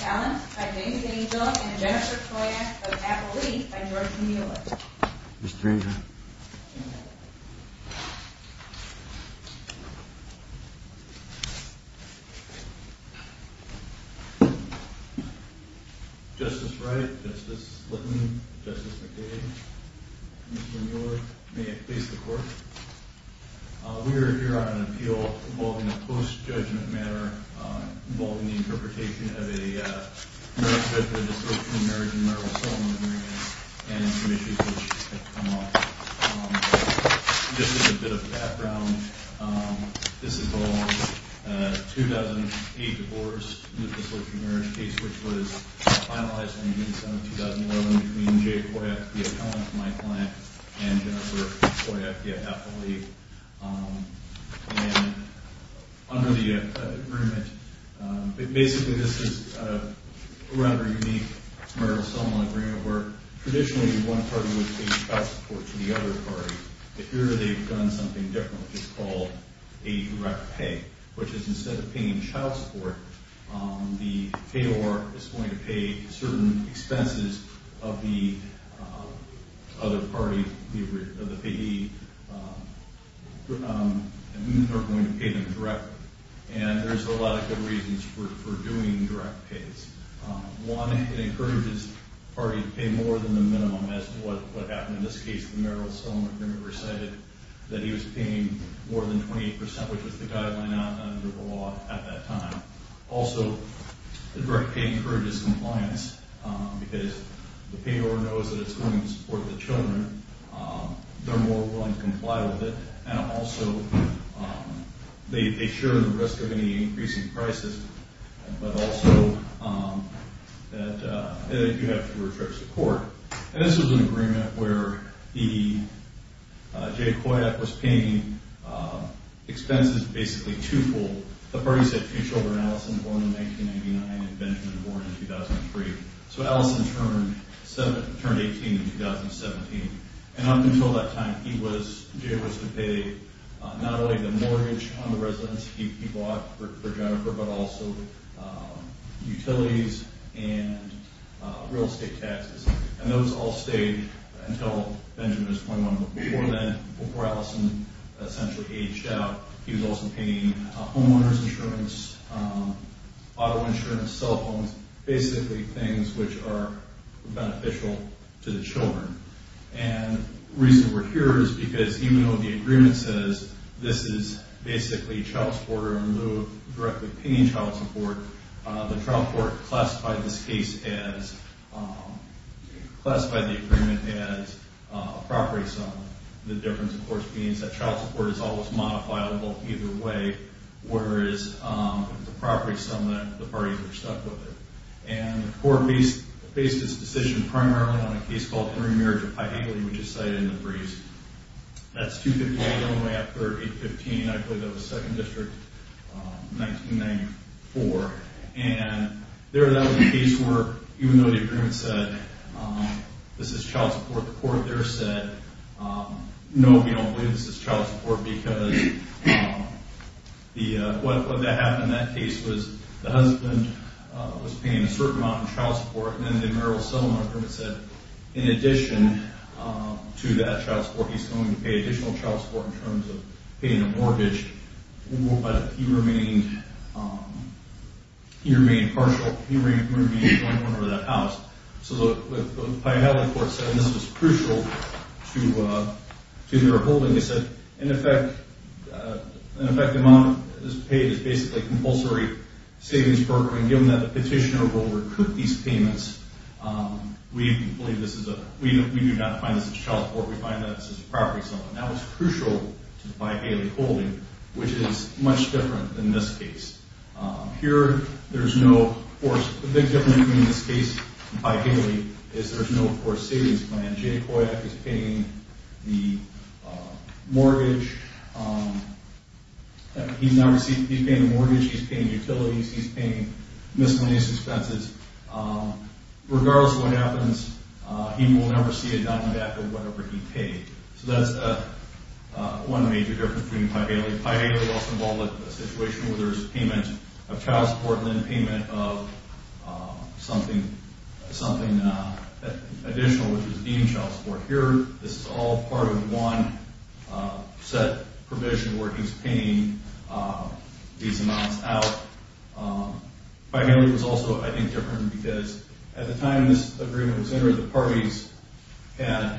Talent by James Angel and Jennifer Koyak of Apple Leaf by George Mueller. Mr. Angel. Justice Wright, Justice Littman, Justice McCabe, Mr. Mueller, may I please the court. We are here on an appeal involving a post-judgment matter involving the interpretation of a marriage and marital ceremony and some issues which have come up. This is a bit of background. This involves a 2008 divorce with a social marriage case which was finalized on June 7, 2011 between J. Koyak, the accountant for my client, and Jennifer Koyak, the Apple Leaf. And under the agreement, basically this is a rather unique marital ceremony agreement where traditionally one party would pay child support to the other party. But here they've done something different which is called a direct pay. Which is instead of paying child support, the payor is going to pay certain expenses of the other party, the payee, and they're going to pay them directly. And there's a lot of good reasons for doing direct pays. One, it encourages the party to pay more than the minimum as to what happened in this case. The marital ceremony agreement recited that he was paying more than 28%, which was the guideline out under the law at that time. Also, the direct pay encourages compliance because the payor knows that it's going to support the children. They're more willing to comply with it. And also, they share the risk of any increase in prices. But also, you have to retract support. And this was an agreement where J. Koyak was paying expenses basically two-fold. The party said two children, Allison born in 1999 and Benjamin born in 2003. So Allison turned 18 in 2017. And up until that time, J. was to pay not only the mortgage on the residence he bought for Jennifer, but also utilities and real estate taxes. And those all stayed until Benjamin was 21. Before Allison essentially aged out, he was also paying homeowners insurance, auto insurance, cell phones, basically things which are beneficial to the children. And the reason we're here is because even though the agreement says this is basically child support in lieu of directly paying child support, the trial court classified the agreement as a property sum. The difference, of course, being that child support is always modifiable either way, whereas if it's a property sum, then the parties are stuck with it. And the court based its decision primarily on a case called Henry Marriage of Pyhaley, which is cited in the briefs. That's 215, all the way up to 815. I believe that was 2nd District, 1994. And that was a case where even though the agreement said this is child support, the court there said, no, we don't believe this is child support because what happened in that case was the husband was paying a certain amount in child support and then the marital settlement agreement said in addition to that child support, he's going to pay additional child support in terms of paying a mortgage. But he remained partial. He remained a joint owner of that house. So the Pyhaley court said this was crucial to their holding. They said, in effect, the amount paid is basically compulsory savings program. Given that the petitioner will recoup these payments, we do not find this is child support. We find that this is a property sum. And that was crucial to the Pyhaley holding, which is much different than this case. Here, there's no, of course, the big difference between this case and Pyhaley is there's no, of course, savings plan. Jay Koyak is paying the mortgage. He's paying the mortgage. He's paying utilities. He's paying miscellaneous expenses. Regardless of what happens, he will never see it done back to whatever he paid. So that's one major difference between Pyhaley. Pyhaley was involved in a situation where there's payment of child support and then payment of something additional, which is deemed child support. Here, this is all part of one set provision where he's paying these amounts out. Pyhaley was also, I think, different because at the time this agreement was entered, the parties had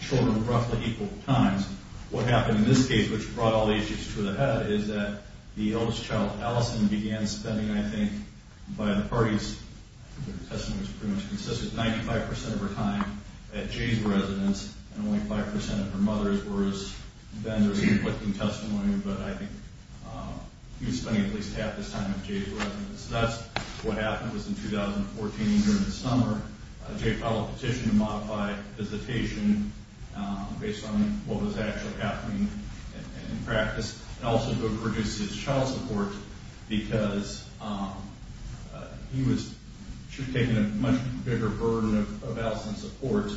children roughly equal times. What happened in this case, which brought all the issues to the head, is that the eldest child, Allison, began spending, I think, by the parties, her testimony was pretty much consistent, 95% of her time at Jay's residence and only 5% of her mother's, whereas Ben, there's conflicting testimony, but I think he was spending at least half his time at Jay's residence. So that's what happened was in 2014, during the summer, Jay filed a petition to modify visitation based on what was actually happening in practice and also to reduce his child support because he was taking a much bigger burden of Allison's support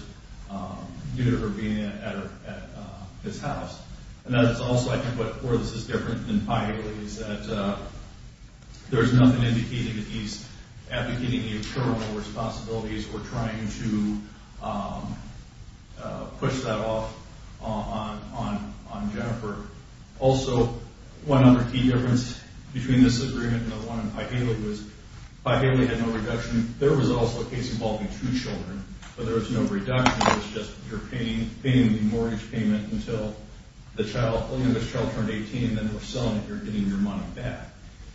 due to her being at his house. And that's also, I think, where this is different than Pyhaley, is that there's nothing indicating that he's advocating any criminal responsibilities or trying to push that off on Jennifer. Also, one other key difference between this agreement and the one in Pyhaley was Pyhaley had no reduction. There was also a case involving two children, but there was no reduction. It was just you're paying the mortgage payment until the child turned 18 and then they were selling it, you're getting your money back.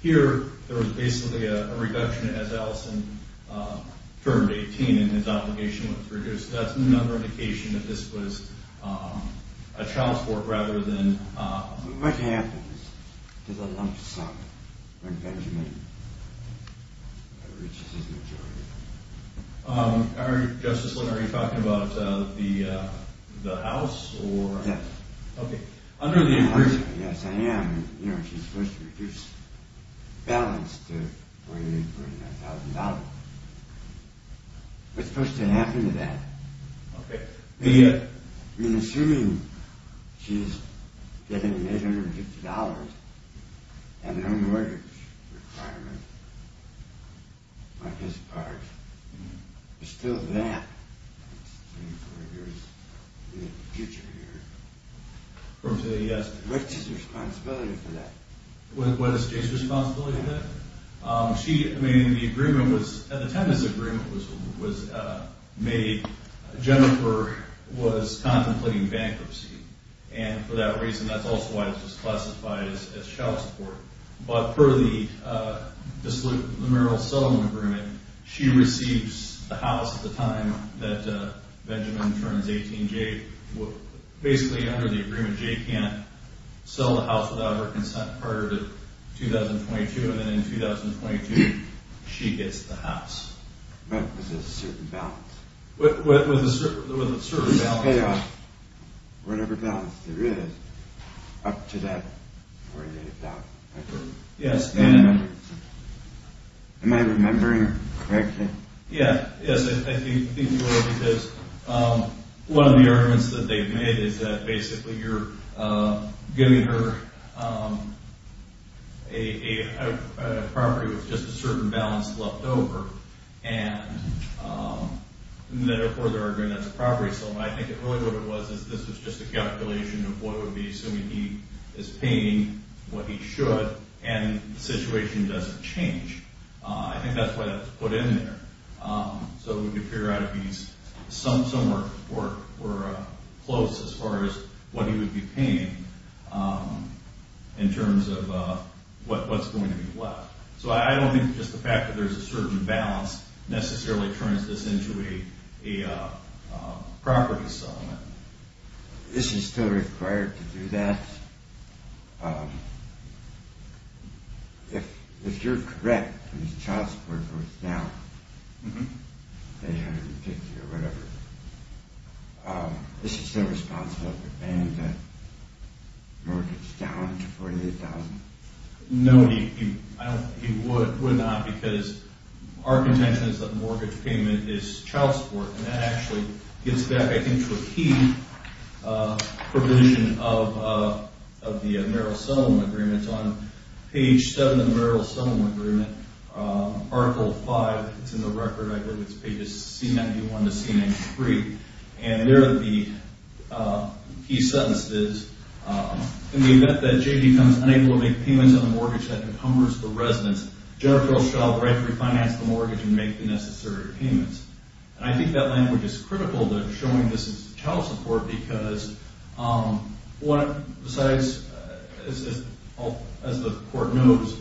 Here, there was basically a reduction as Allison turned 18 and his obligation was reduced. So that's another indication that this was a child support rather than... What happens to the lump sum when Benjamin reaches his majority? Are you talking about the house? Yes. Okay. Yes, I am. You know, she's supposed to reduce balance to $49,000. What's supposed to happen to that? Okay. Assuming she's getting $850 and her mortgage requirement on his part is still that, it's three, four years in the future here. From today, yes. What's his responsibility for that? What is Jay's responsibility for that? I mean, the agreement was... At the time this agreement was made, Jennifer was contemplating bankruptcy. And for that reason, that's also why this was classified as child support. But per the memorial settlement agreement, she receives the house at the time that Benjamin turns 18. Jay basically entered the agreement. Jay can't sell the house without her consent prior to 2022. And then in 2022, she gets the house. But with a certain balance. With a certain balance. Whatever balance there is up to that $49,000. Yes. Am I remembering correctly? Yeah. Yes, I think you are because one of the arguments that they've made is that basically you're giving her a property with just a certain balance left over. And therefore they're arguing that's a property. So I think really what it was is this was just a calculation of what it would be. Assuming he is paying what he should. And the situation doesn't change. I think that's why that's put in there. So we could figure out if he's somewhere close as far as what he would be paying. In terms of what's going to be left. So I don't think just the fact that there's a certain balance necessarily turns this into a property settlement. This is still required to do that. If you're correct, the child support goes down. $350,000 or whatever. This is still responsible for paying the mortgage down to $48,000? No, he would not because our contention is that mortgage payment is child support. And that actually gets back, I think, to a key provision of the marital settlement agreement. It's on page 7 of the marital settlement agreement, article 5. It's in the record. I think it's pages C91 to C93. And there the key sentence is, in the event that Jay becomes unable to make payments on the mortgage that encumbers the residence, General Carroll shall rightfully finance the mortgage and make the necessary payments. And I think that language is critical to showing this is child support, because besides, as the court knows,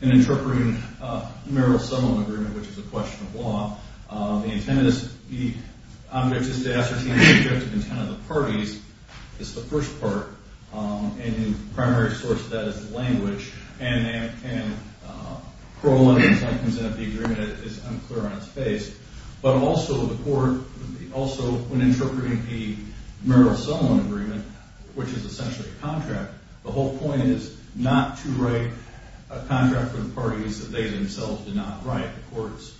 in interpreting the marital settlement agreement, which is a question of law, the intent of the object is to ascertain the objective intent of the parties. That's the first part. And the primary source of that is the language. And Crowley, as far as I'm concerned, the agreement is unclear on its face. But also the court, also when interpreting the marital settlement agreement, which is essentially a contract, the whole point is not to write a contract for the parties that they themselves did not write. The courts,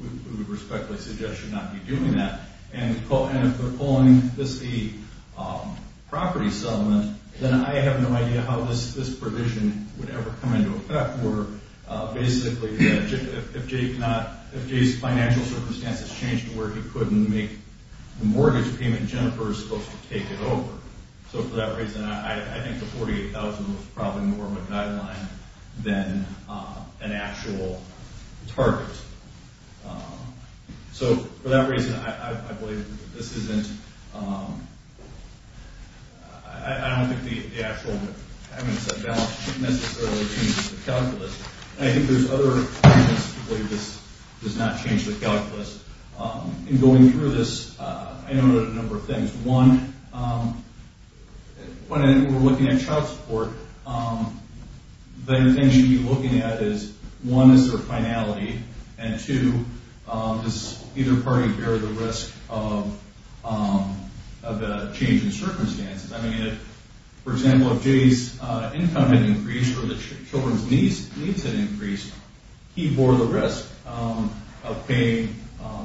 we would respectfully suggest, should not be doing that. And if they're calling this the property settlement, then I have no idea how this provision would ever come into effect. Or basically, if Jay's financial circumstances changed to where he couldn't make the mortgage payment, Jennifer is supposed to take it over. So for that reason, I think the $48,000 was probably more of a guideline than an actual target. So for that reason, I don't think the actual balance should necessarily change the calculus. And I think there's other reasons to believe this does not change the calculus. In going through this, I noted a number of things. One, when we're looking at child support, the things you should be looking at is, one, is there finality? And two, does either party bear the risk of a change in circumstances? I mean, for example, if Jay's income had increased or the children's needs had increased, he bore the risk of paying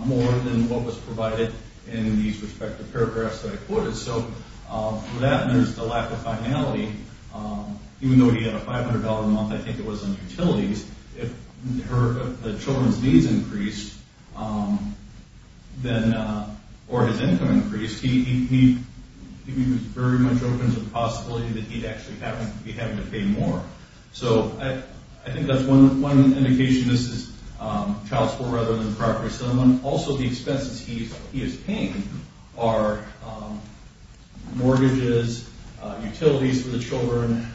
more than what was provided in these respective paragraphs that I quoted. So for that, there's the lack of finality. Even though he had a $500 a month, I think it was in utilities, if the children's needs increased or his income increased, he was very much open to the possibility that he'd actually be having to pay more. So I think that's one indication this is child support rather than a property settlement. Also, the expenses he is paying are mortgages, utilities for the children,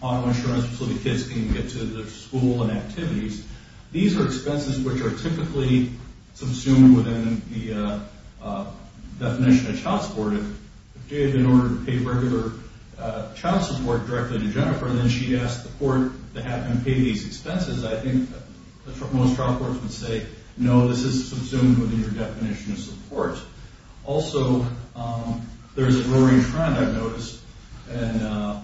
auto insurance so the kids can get to the school and activities. These are expenses which are typically subsumed within the definition of child support. If Jay had been ordered to pay regular child support directly to Jennifer, then she'd ask the court to have him pay these expenses. I think most child courts would say, no, this is subsumed within your definition of support. Also, there's a growing trend, I've noticed, in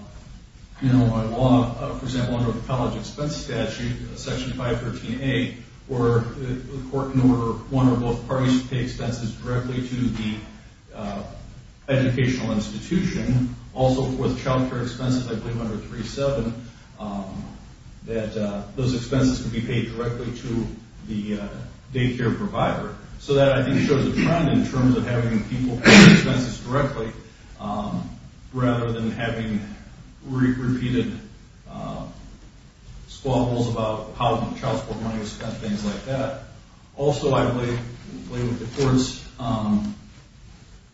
Illinois law. For example, under the College Expense Statute, Section 513A, where the court can order one or both parties to pay expenses directly to the educational institution. Also, with child care expenses, I believe under 3.7, that those expenses can be paid directly to the daycare provider. So that, I think, shows a trend in terms of having people pay expenses directly rather than having repeated squabbles about how child support money is spent, things like that. Also, I believe with the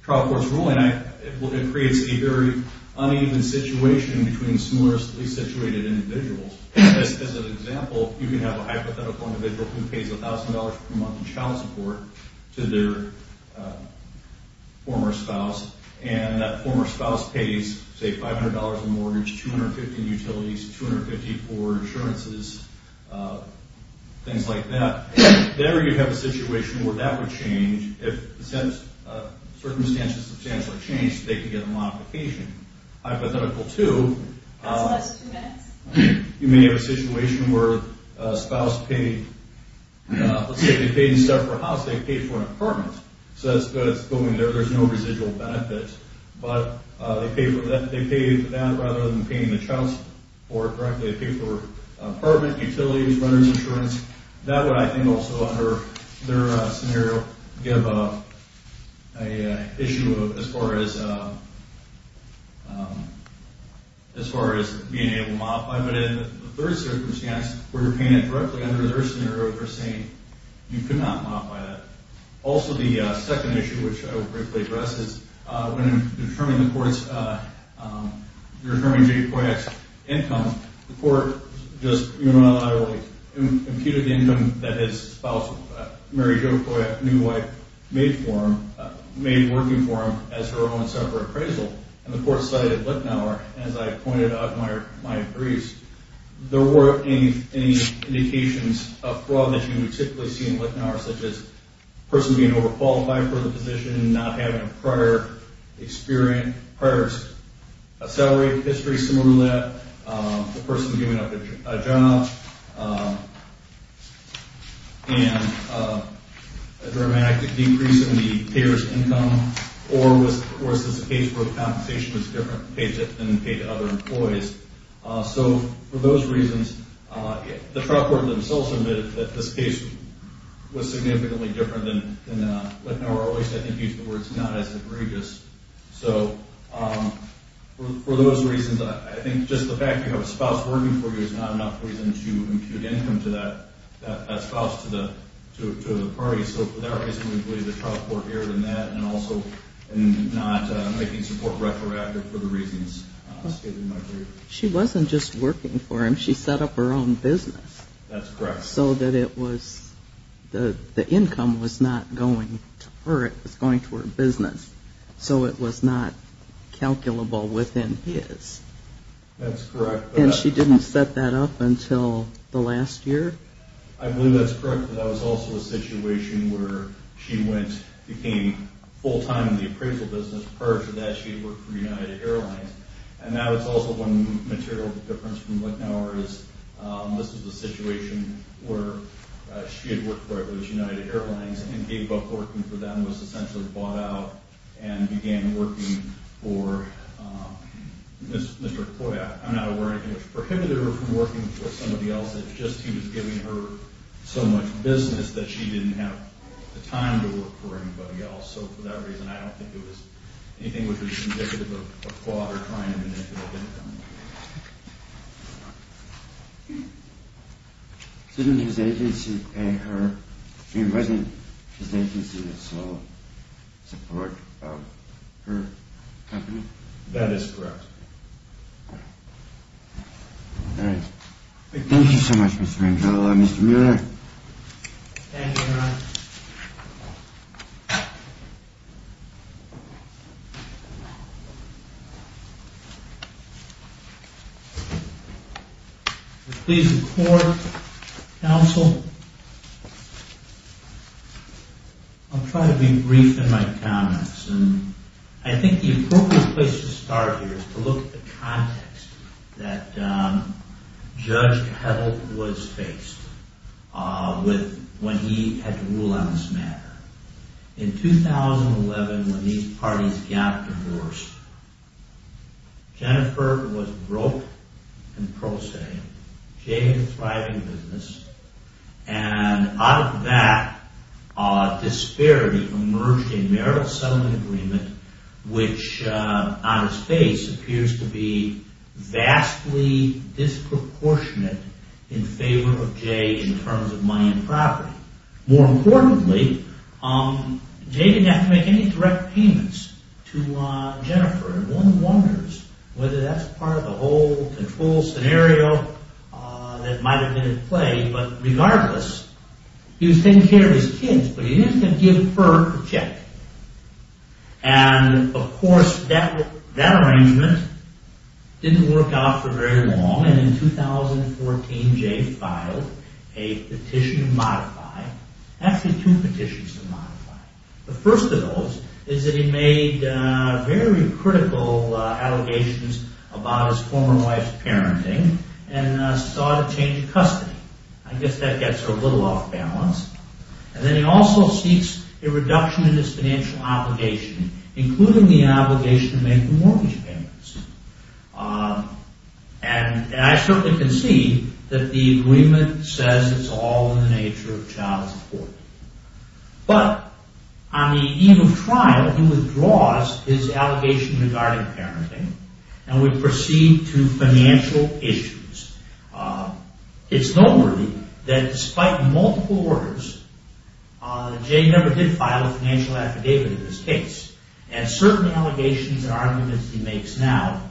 trial court's ruling, it creates a very uneven situation between similarly situated individuals. As an example, you can have a hypothetical individual who pays $1,000 per month in child support to their former spouse, and that former spouse pays, say, $500 in mortgage, $250 in utilities, $250 for insurances, things like that. There you have a situation where that would change. If circumstances substantially change, they can get a modification. Hypothetical too, you may have a situation where a spouse paid, let's say they paid in stuff for a house, they paid for an apartment. So that's good, it's going there, there's no residual benefit. But they paid for that rather than paying the child support directly. They paid for apartment, utilities, renters' insurance. That would, I think, also under their scenario, give an issue as far as being able to modify. But in the third circumstance, where you're paying it directly under their scenario, they're saying you could not modify that. Also, the second issue, which I will briefly address, is when determining the court's, determining Jay Koyak's income, the court just unilaterally imputed the income that his spouse, Mary Jo Koyak, new wife, made for him, made working for him as her own separate appraisal. And the court cited Lipnower. And as I pointed out in my briefs, there weren't any indications of fraud that you would typically see in Lipnower, such as a person being overqualified for the position, not having a prior experience, prior salary history similar to that, a person giving up a job, and a dramatic decrease in the payer's income, or was, of course, this a case where the compensation was different, paid to other employees. So for those reasons, the trial court themselves admitted that this case was significantly different than Lipnower, or at least I think used the words not as egregious. So for those reasons, I think just the fact you have a spouse working for you is not enough reason to impute income to that spouse, to the parties. So for that reason, we believe the trial court erred in that and also in not making support retroactive for the reasons stated in my brief. She wasn't just working for him. She set up her own business. That's correct. So that it was the income was not going to her. It was going to her business. So it was not calculable within his. That's correct. And she didn't set that up until the last year? I believe that's correct, but that was also a situation where she went, became full-time in the appraisal business. Prior to that, she had worked for United Airlines. And that was also one material difference from Lipnower, is this is a situation where she had worked for United Airlines and gave up working for them, was essentially bought out, and began working for Mr. Coy. I'm not aware of anything that prohibited her from working for somebody else. It's just he was giving her so much business that she didn't have the time to work for anybody else. So for that reason, I don't think it was anything which was indicative of fraud or trying to manipulate income. So it wasn't his agency that saw support of her company? That is correct. All right. Thank you so much, Mr. Angelo. Mr. Mueller. Thank you, Ron. Please report, counsel. I'll try to be brief in my comments. I think the appropriate place to start here is to look at the context that Judge Kettle was faced with when he had to rule on this matter. In 2011, when these parties got divorced, Jennifer was broke and pro se. Jay had a thriving business. And out of that disparity emerged a marital settlement agreement, which on its face appears to be vastly disproportionate in favor of Jay in terms of money and property. More importantly, Jay didn't have to make any direct payments to Jennifer. One wonders whether that's part of the whole control scenario that might have been at play. But regardless, he was taking care of his kids, but he didn't give her a check. And, of course, that arrangement didn't work out for very long. And in 2014, Jay filed a petition to modify. Actually, two petitions to modify. The first of those is that he made very critical allegations about his former wife's parenting and sought a change of custody. I guess that gets her a little off balance. And then he also seeks a reduction in his financial obligation, including the obligation to make the mortgage payments. And I certainly can see that the agreement says it's all in the nature of child support. But on the eve of trial, he withdraws his allegation regarding parenting and would proceed to financial issues. It's noteworthy that despite multiple orders, Jay never did file a financial affidavit in this case. And certain allegations and arguments he makes now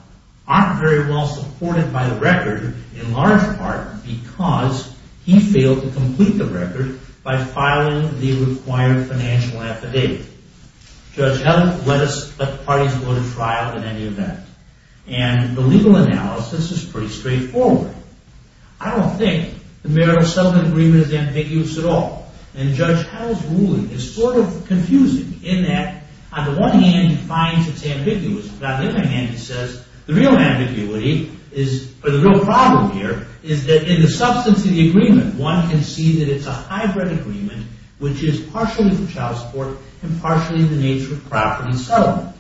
aren't very well supported by the record in large part because he failed to complete the record by filing the required financial affidavit. Judge Heldt let parties go to trial in any event. And the legal analysis is pretty straightforward. I don't think the Merrill-Sullivan agreement is ambiguous at all. And Judge Heldt's ruling is sort of confusing in that, on the one hand, he finds it's ambiguous, but on the other hand, he says the real ambiguity, or the real problem here, is that in the substance of the agreement, one can see that it's a hybrid agreement, which is partially for child support and partially in the nature of property settlement.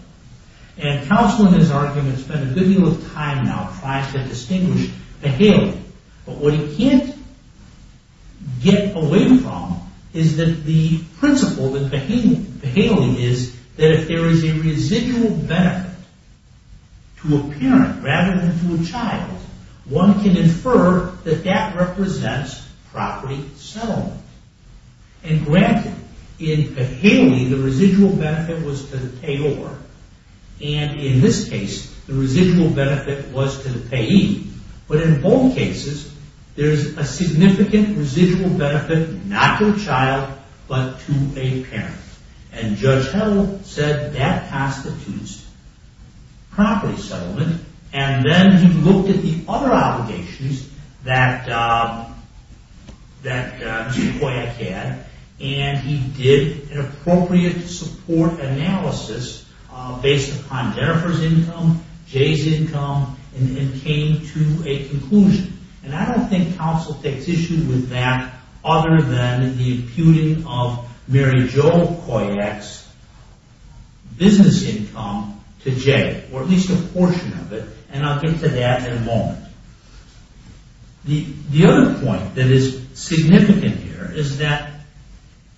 And counsel in his argument spent a good deal of time now trying to distinguish Pahaly. But what he can't get away from is that the principle that Pahaly is that if there is a residual benefit to a parent rather than to a child, one can infer that that represents property settlement. And granted, in Pahaly, the residual benefit was to the payor. And in this case, the residual benefit was to the payee. But in both cases, there's a significant residual benefit not to a child but to a parent. And Judge Heldt said that constitutes property settlement. And then he looked at the other obligations that Mr. Koyak had, and he did an appropriate support analysis based upon Darifer's income, Jay's income, and came to a conclusion. And I don't think counsel takes issue with that other than the imputing of Mary Jo Koyak's business income to Jay, or at least a portion of it. And I'll get to that in a moment. The other point that is significant here is that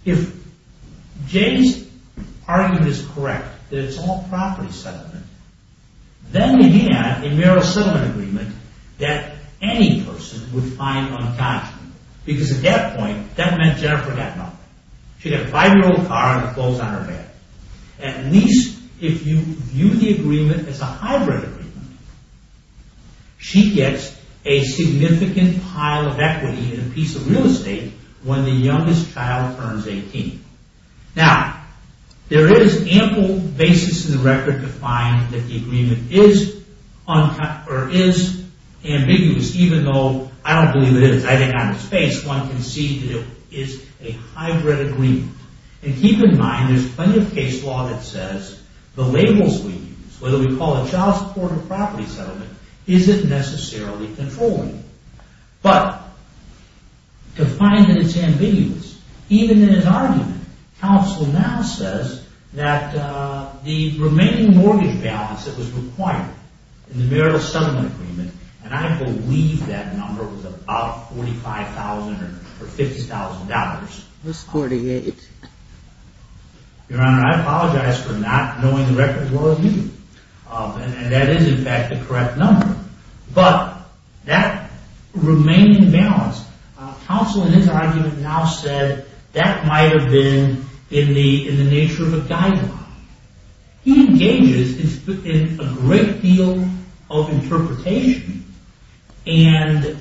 if Jay's argument is correct, that it's all property settlement, then he had a marital settlement agreement that any person would find on a contract. Because at that point, that meant Jennifer had none. She had a five-year-old car and the clothes on her back. At least if you view the agreement as a hybrid agreement, she gets a significant pile of equity in a piece of real estate when the youngest child turns 18. Now, there is ample basis in the record to find that the agreement is ambiguous, even though I don't believe it is. I think on its face, one can see that it is a hybrid agreement. And keep in mind, there's plenty of case law that says the labels we use, whether we call it child support or property settlement, isn't necessarily controlling. But to find that it's ambiguous, even in his argument, counsel now says that the remaining mortgage balance that was required in the marital settlement agreement, and I believe that number was about $45,000 or $50,000. It was $48,000. Your Honor, I apologize for not knowing the record well. And that is, in fact, the correct number. But that remaining balance, counsel in his argument now said that might have been in the nature of a guideline. He engages in a great deal of interpretation, and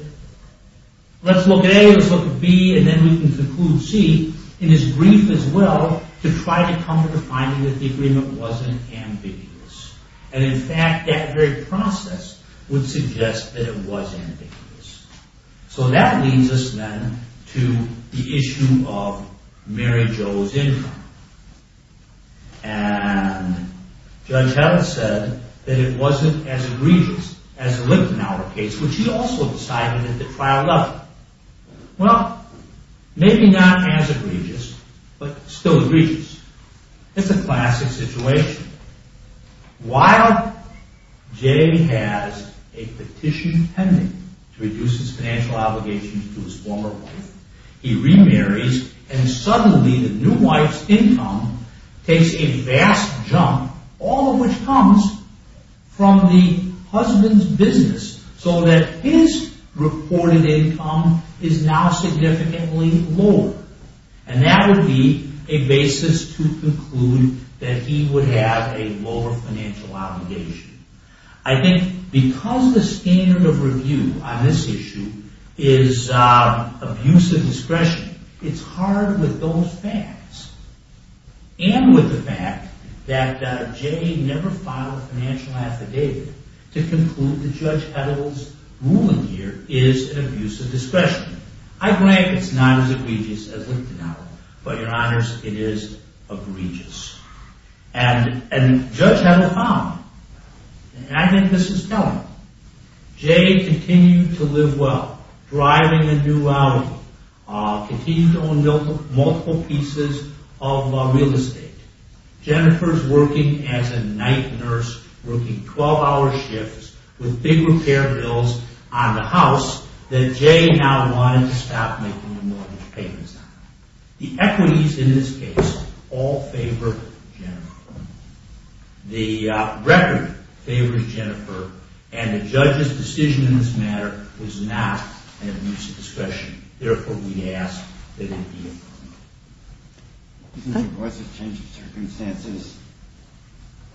let's look at A, let's look at B, and then we can conclude C, in his brief as well, to try to come to the finding that the agreement wasn't ambiguous. And in fact, that very process would suggest that it was ambiguous. So that leads us, then, to the issue of Mary Jo's income. And Judge Heller said that it wasn't as egregious as the Lindenauer case, which he also decided at the trial level. Well, maybe not as egregious, but still egregious. It's a classic situation. While Jay has a petition pending to reduce his financial obligations to his former wife, he remarries, and suddenly the new wife's income takes a vast jump, all of which comes from the husband's business, so that his reported income is now significantly lower. And that would be a basis to conclude that he would have a lower financial obligation. I think because the standard of review on this issue is abuse of discretion, it's hard with those facts, and with the fact that Jay never filed a financial affidavit to conclude that Judge Heller's ruling here is an abuse of discretion. I grant it's not as egregious as Lindenauer, but, Your Honors, it is egregious. And Judge Heller found, and I think this is telling, Jay continued to live well, driving a new Audi, continued to own multiple pieces of real estate. Jennifer's working as a night nurse, working 12-hour shifts, with big repair bills on the house that Jay now wanted to stop making the mortgage payments on. The equities in this case all favor Jennifer. The record favors Jennifer, and the judge's decision in this matter was not an abuse of discretion. Therefore, we ask that it be affirmed. Do you think there was a change of circumstances?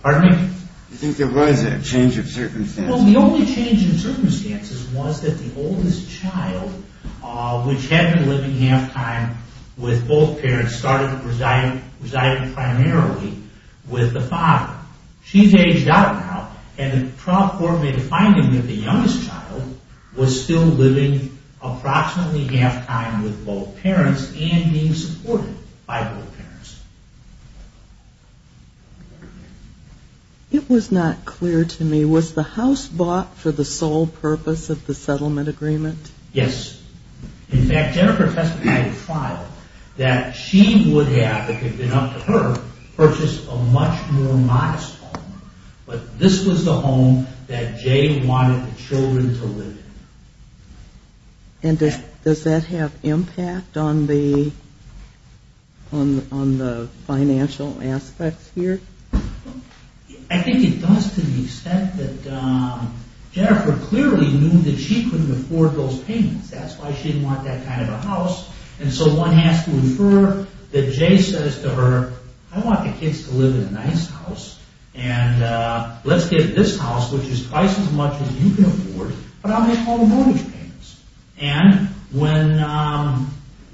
Pardon me? Do you think there was a change of circumstances? Well, the only change of circumstances was that the oldest child, which had been living half-time with both parents, had started residing primarily with the father. She's aged out now, and the trial court made a finding that the youngest child was still living approximately half-time with both parents and being supported by both parents. It was not clear to me. Was the house bought for the sole purpose of the settlement agreement? Yes. In fact, Jennifer testified in the trial that she would have, if it had been up to her, purchased a much more modest home. But this was the home that Jay wanted the children to live in. And does that have impact on the financial aspects here? I think it does to the extent that Jennifer clearly knew that she couldn't afford those payments. That's why she didn't want that kind of a house. And so one has to infer that Jay says to her, I want the kids to live in a nice house, and let's get this house, which is twice as much as you can afford, but I'll make home mortgage payments. And when the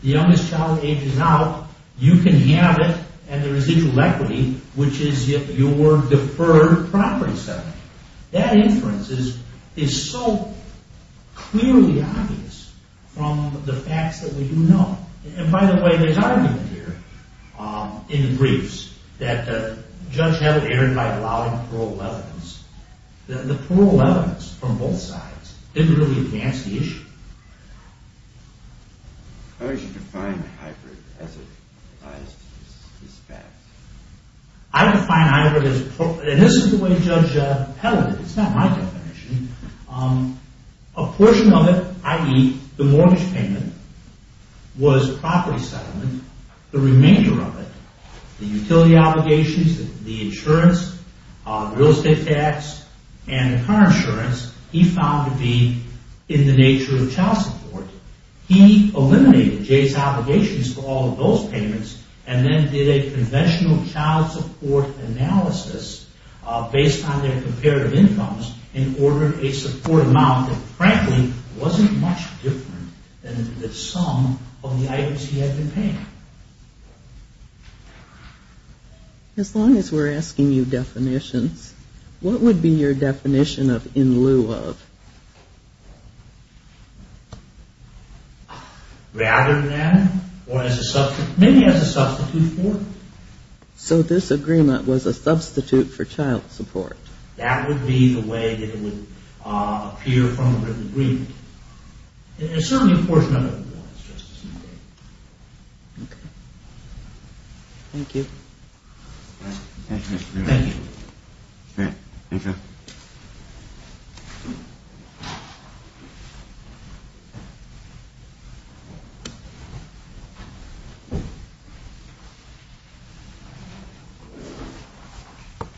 youngest child ages out, you can have it and the residual equity, which is your deferred property settlement. That inference is so clearly obvious from the facts that we do know. And by the way, there's argument here in the briefs that the judge had it aired by loud and plural evidence. The plural evidence from both sides didn't really advance the issue. How would you define hybrid as it applies to this fact? I define hybrid as appropriate. And this is the way Judge Pettit did it. It's not my definition. A portion of it, i.e., the mortgage payment, was property settlement. The remainder of it, the utility obligations, the insurance, the real estate tax, and the car insurance, he found to be in the nature of child support. He eliminated Jay's obligations for all of those payments and then did a conventional child support analysis based on their comparative incomes and ordered a support amount that, frankly, wasn't much different than the sum of the items he had been paying. As long as we're asking you definitions, what would be your definition of in lieu of? Rather than? Or as a substitute? Maybe as a substitute for? So this agreement was a substitute for child support. That would be the way that it would appear from a written agreement. And certainly, of course, none of them were. Thank you. Thank you. Thank you. Thank you. Thank you.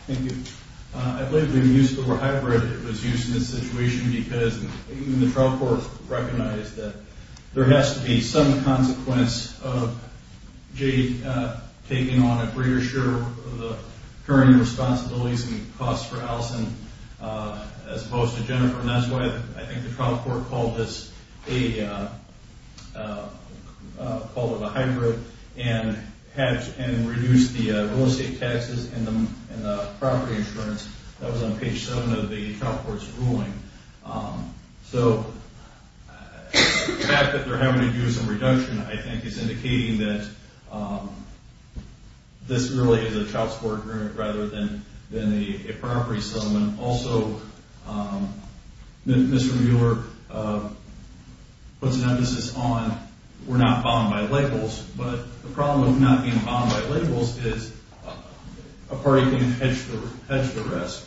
Thank you. I believe the use of the word hybrid was used in this situation because even the child court recognized that there has to be some consequence of Jay taking on a greater share of the current responsibilities and costs for Allison as opposed to Jennifer. And that's why I think the child court called this a hybrid and reduced the real estate taxes and the property insurance. That was on page 7 of the child court's ruling. So the fact that they're having to do some reduction, I think, is indicating that this really is a child support agreement rather than a property sum. Also, Mr. Mueller puts an emphasis on we're not bound by labels, but the problem with not being bound by labels is a party can hedge the risk.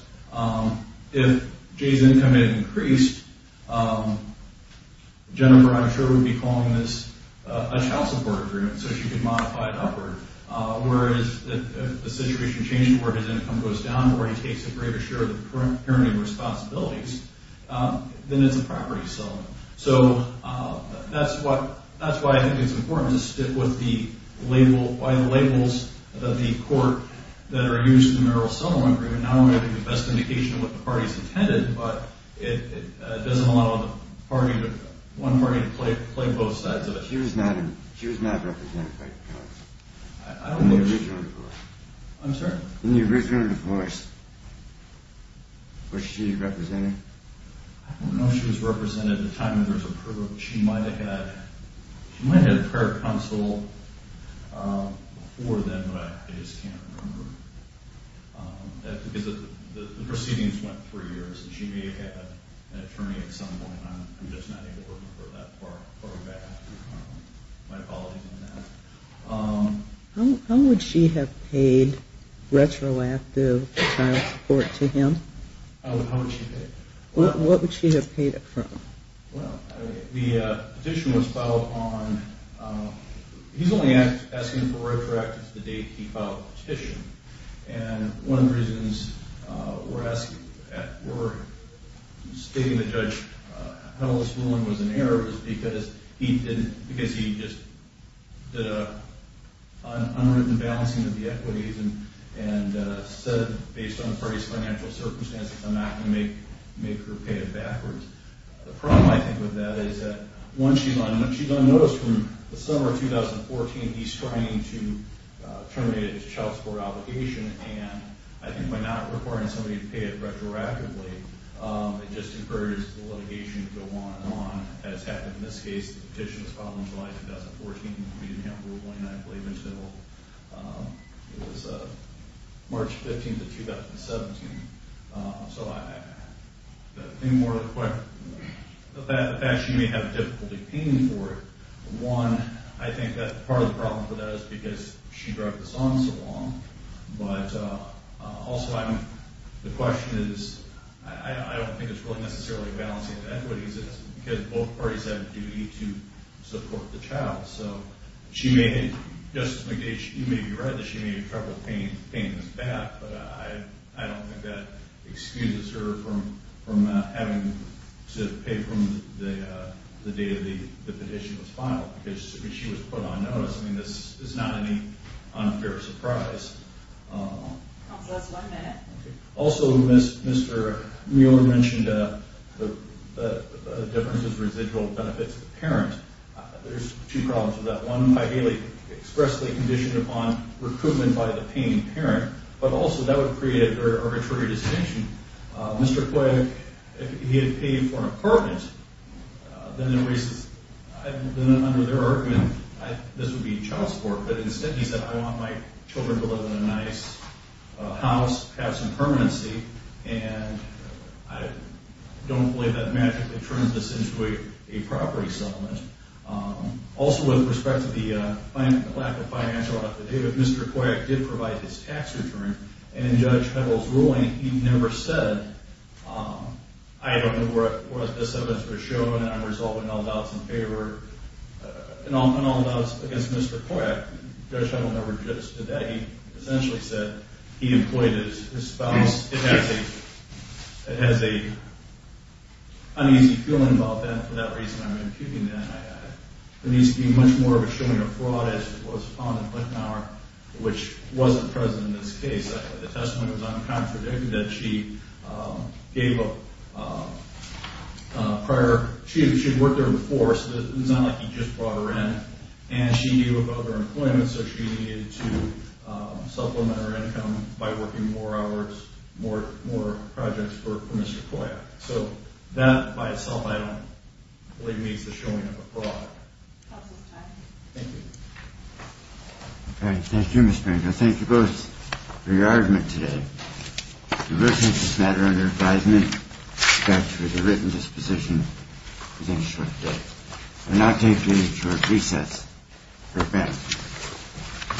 If Jay's income had increased, Jennifer, I'm sure, would be calling this a child support agreement so she could modify it upward, whereas if the situation changed to where his income goes down or he takes a greater share of the current pyramid of responsibilities, then it's a property sum. So that's why I think it's important to stick with the labels of the court that are used in the Meryl Sullivan agreement. Not only are they the best indication of what the party's intended, but it doesn't allow one party to play both sides of it. She was not represented by the courts in the original divorce. I'm sorry? In the original divorce, was she represented? I don't know if she was represented at the time. She might have had a prayer council before then, but I just can't remember. The proceedings went three years, and she may have had an attorney at some point. I'm just not able to remember that far back. My apologies on that. How would she have paid retroactive child support to him? How would she have paid it? What would she have paid it from? Well, the petition was filed on—he's only asking for retroactive to the date he filed the petition. And one of the reasons we're stating that Judge Helms' ruling was in error was because he just did an unwritten balancing of the equities and said, based on the party's financial circumstances, I'm not going to make her pay it backwards. The problem, I think, with that is that once she's on notice from the summer of 2014, he's trying to terminate his child support obligation, and I think by not requiring somebody to pay it retroactively, it just incurs litigation to go on and on. As happened in this case, the petition was filed in July 2014. We didn't have a ruling, I believe, until it was March 15th of 2017. So the thing more than the fact that she may have difficulty paying for it, one, I think that part of the problem for that is because she dragged this on so long. But also the question is, I don't think it's really necessarily balancing the equities. It's because both parties have a duty to support the child. So Justice McDade, you may be right that she may have trouble paying this back, but I don't think that excuses her from having to pay from the date the petition was filed because she was put on notice. I mean, this is not any unfair surprise. Counsel, that's one minute. Also, Mr. Muir mentioned the difference in residual benefits of the parent. There's two problems with that. One, ideally expressly conditioned upon recoupment by the paying parent, but also that would create a very arbitrary distinction. Mr. Coy, if he had paid for an apartment, then under their argument, this would be child support, but instead he said, I want my children to live in a nice house, have some permanency, and I don't believe that magically turns this into a property settlement. Also, with respect to the lack of financial affidavit, Mr. Coy did provide his tax return, and in Judge Petal's ruling, he never said, I don't know where the settlements were shown, and I'm resolving all doubts in favor. In all doubts against Mr. Coy, Judge Petal never did that. He essentially said he employed his spouse. It has an uneasy feeling about that, and for that reason I'm recouping that. There needs to be much more of a showing of fraud as was found in Buchenauer, which wasn't present in this case. The testimony was uncontradicted. She had worked there before, so it's not like he just brought her in, and she knew about her employment, so she needed to supplement her income by working more hours, more projects for Mr. Coy. So that by itself I don't believe meets the showing of a fraud. Counsel's time. Thank you. Thank you, Mr. Angel. Thank you both for your argument today. The versions of this matter are under advisement. Dispatch with a written disposition within a short day. We're now taking a short recess. We're adjourned.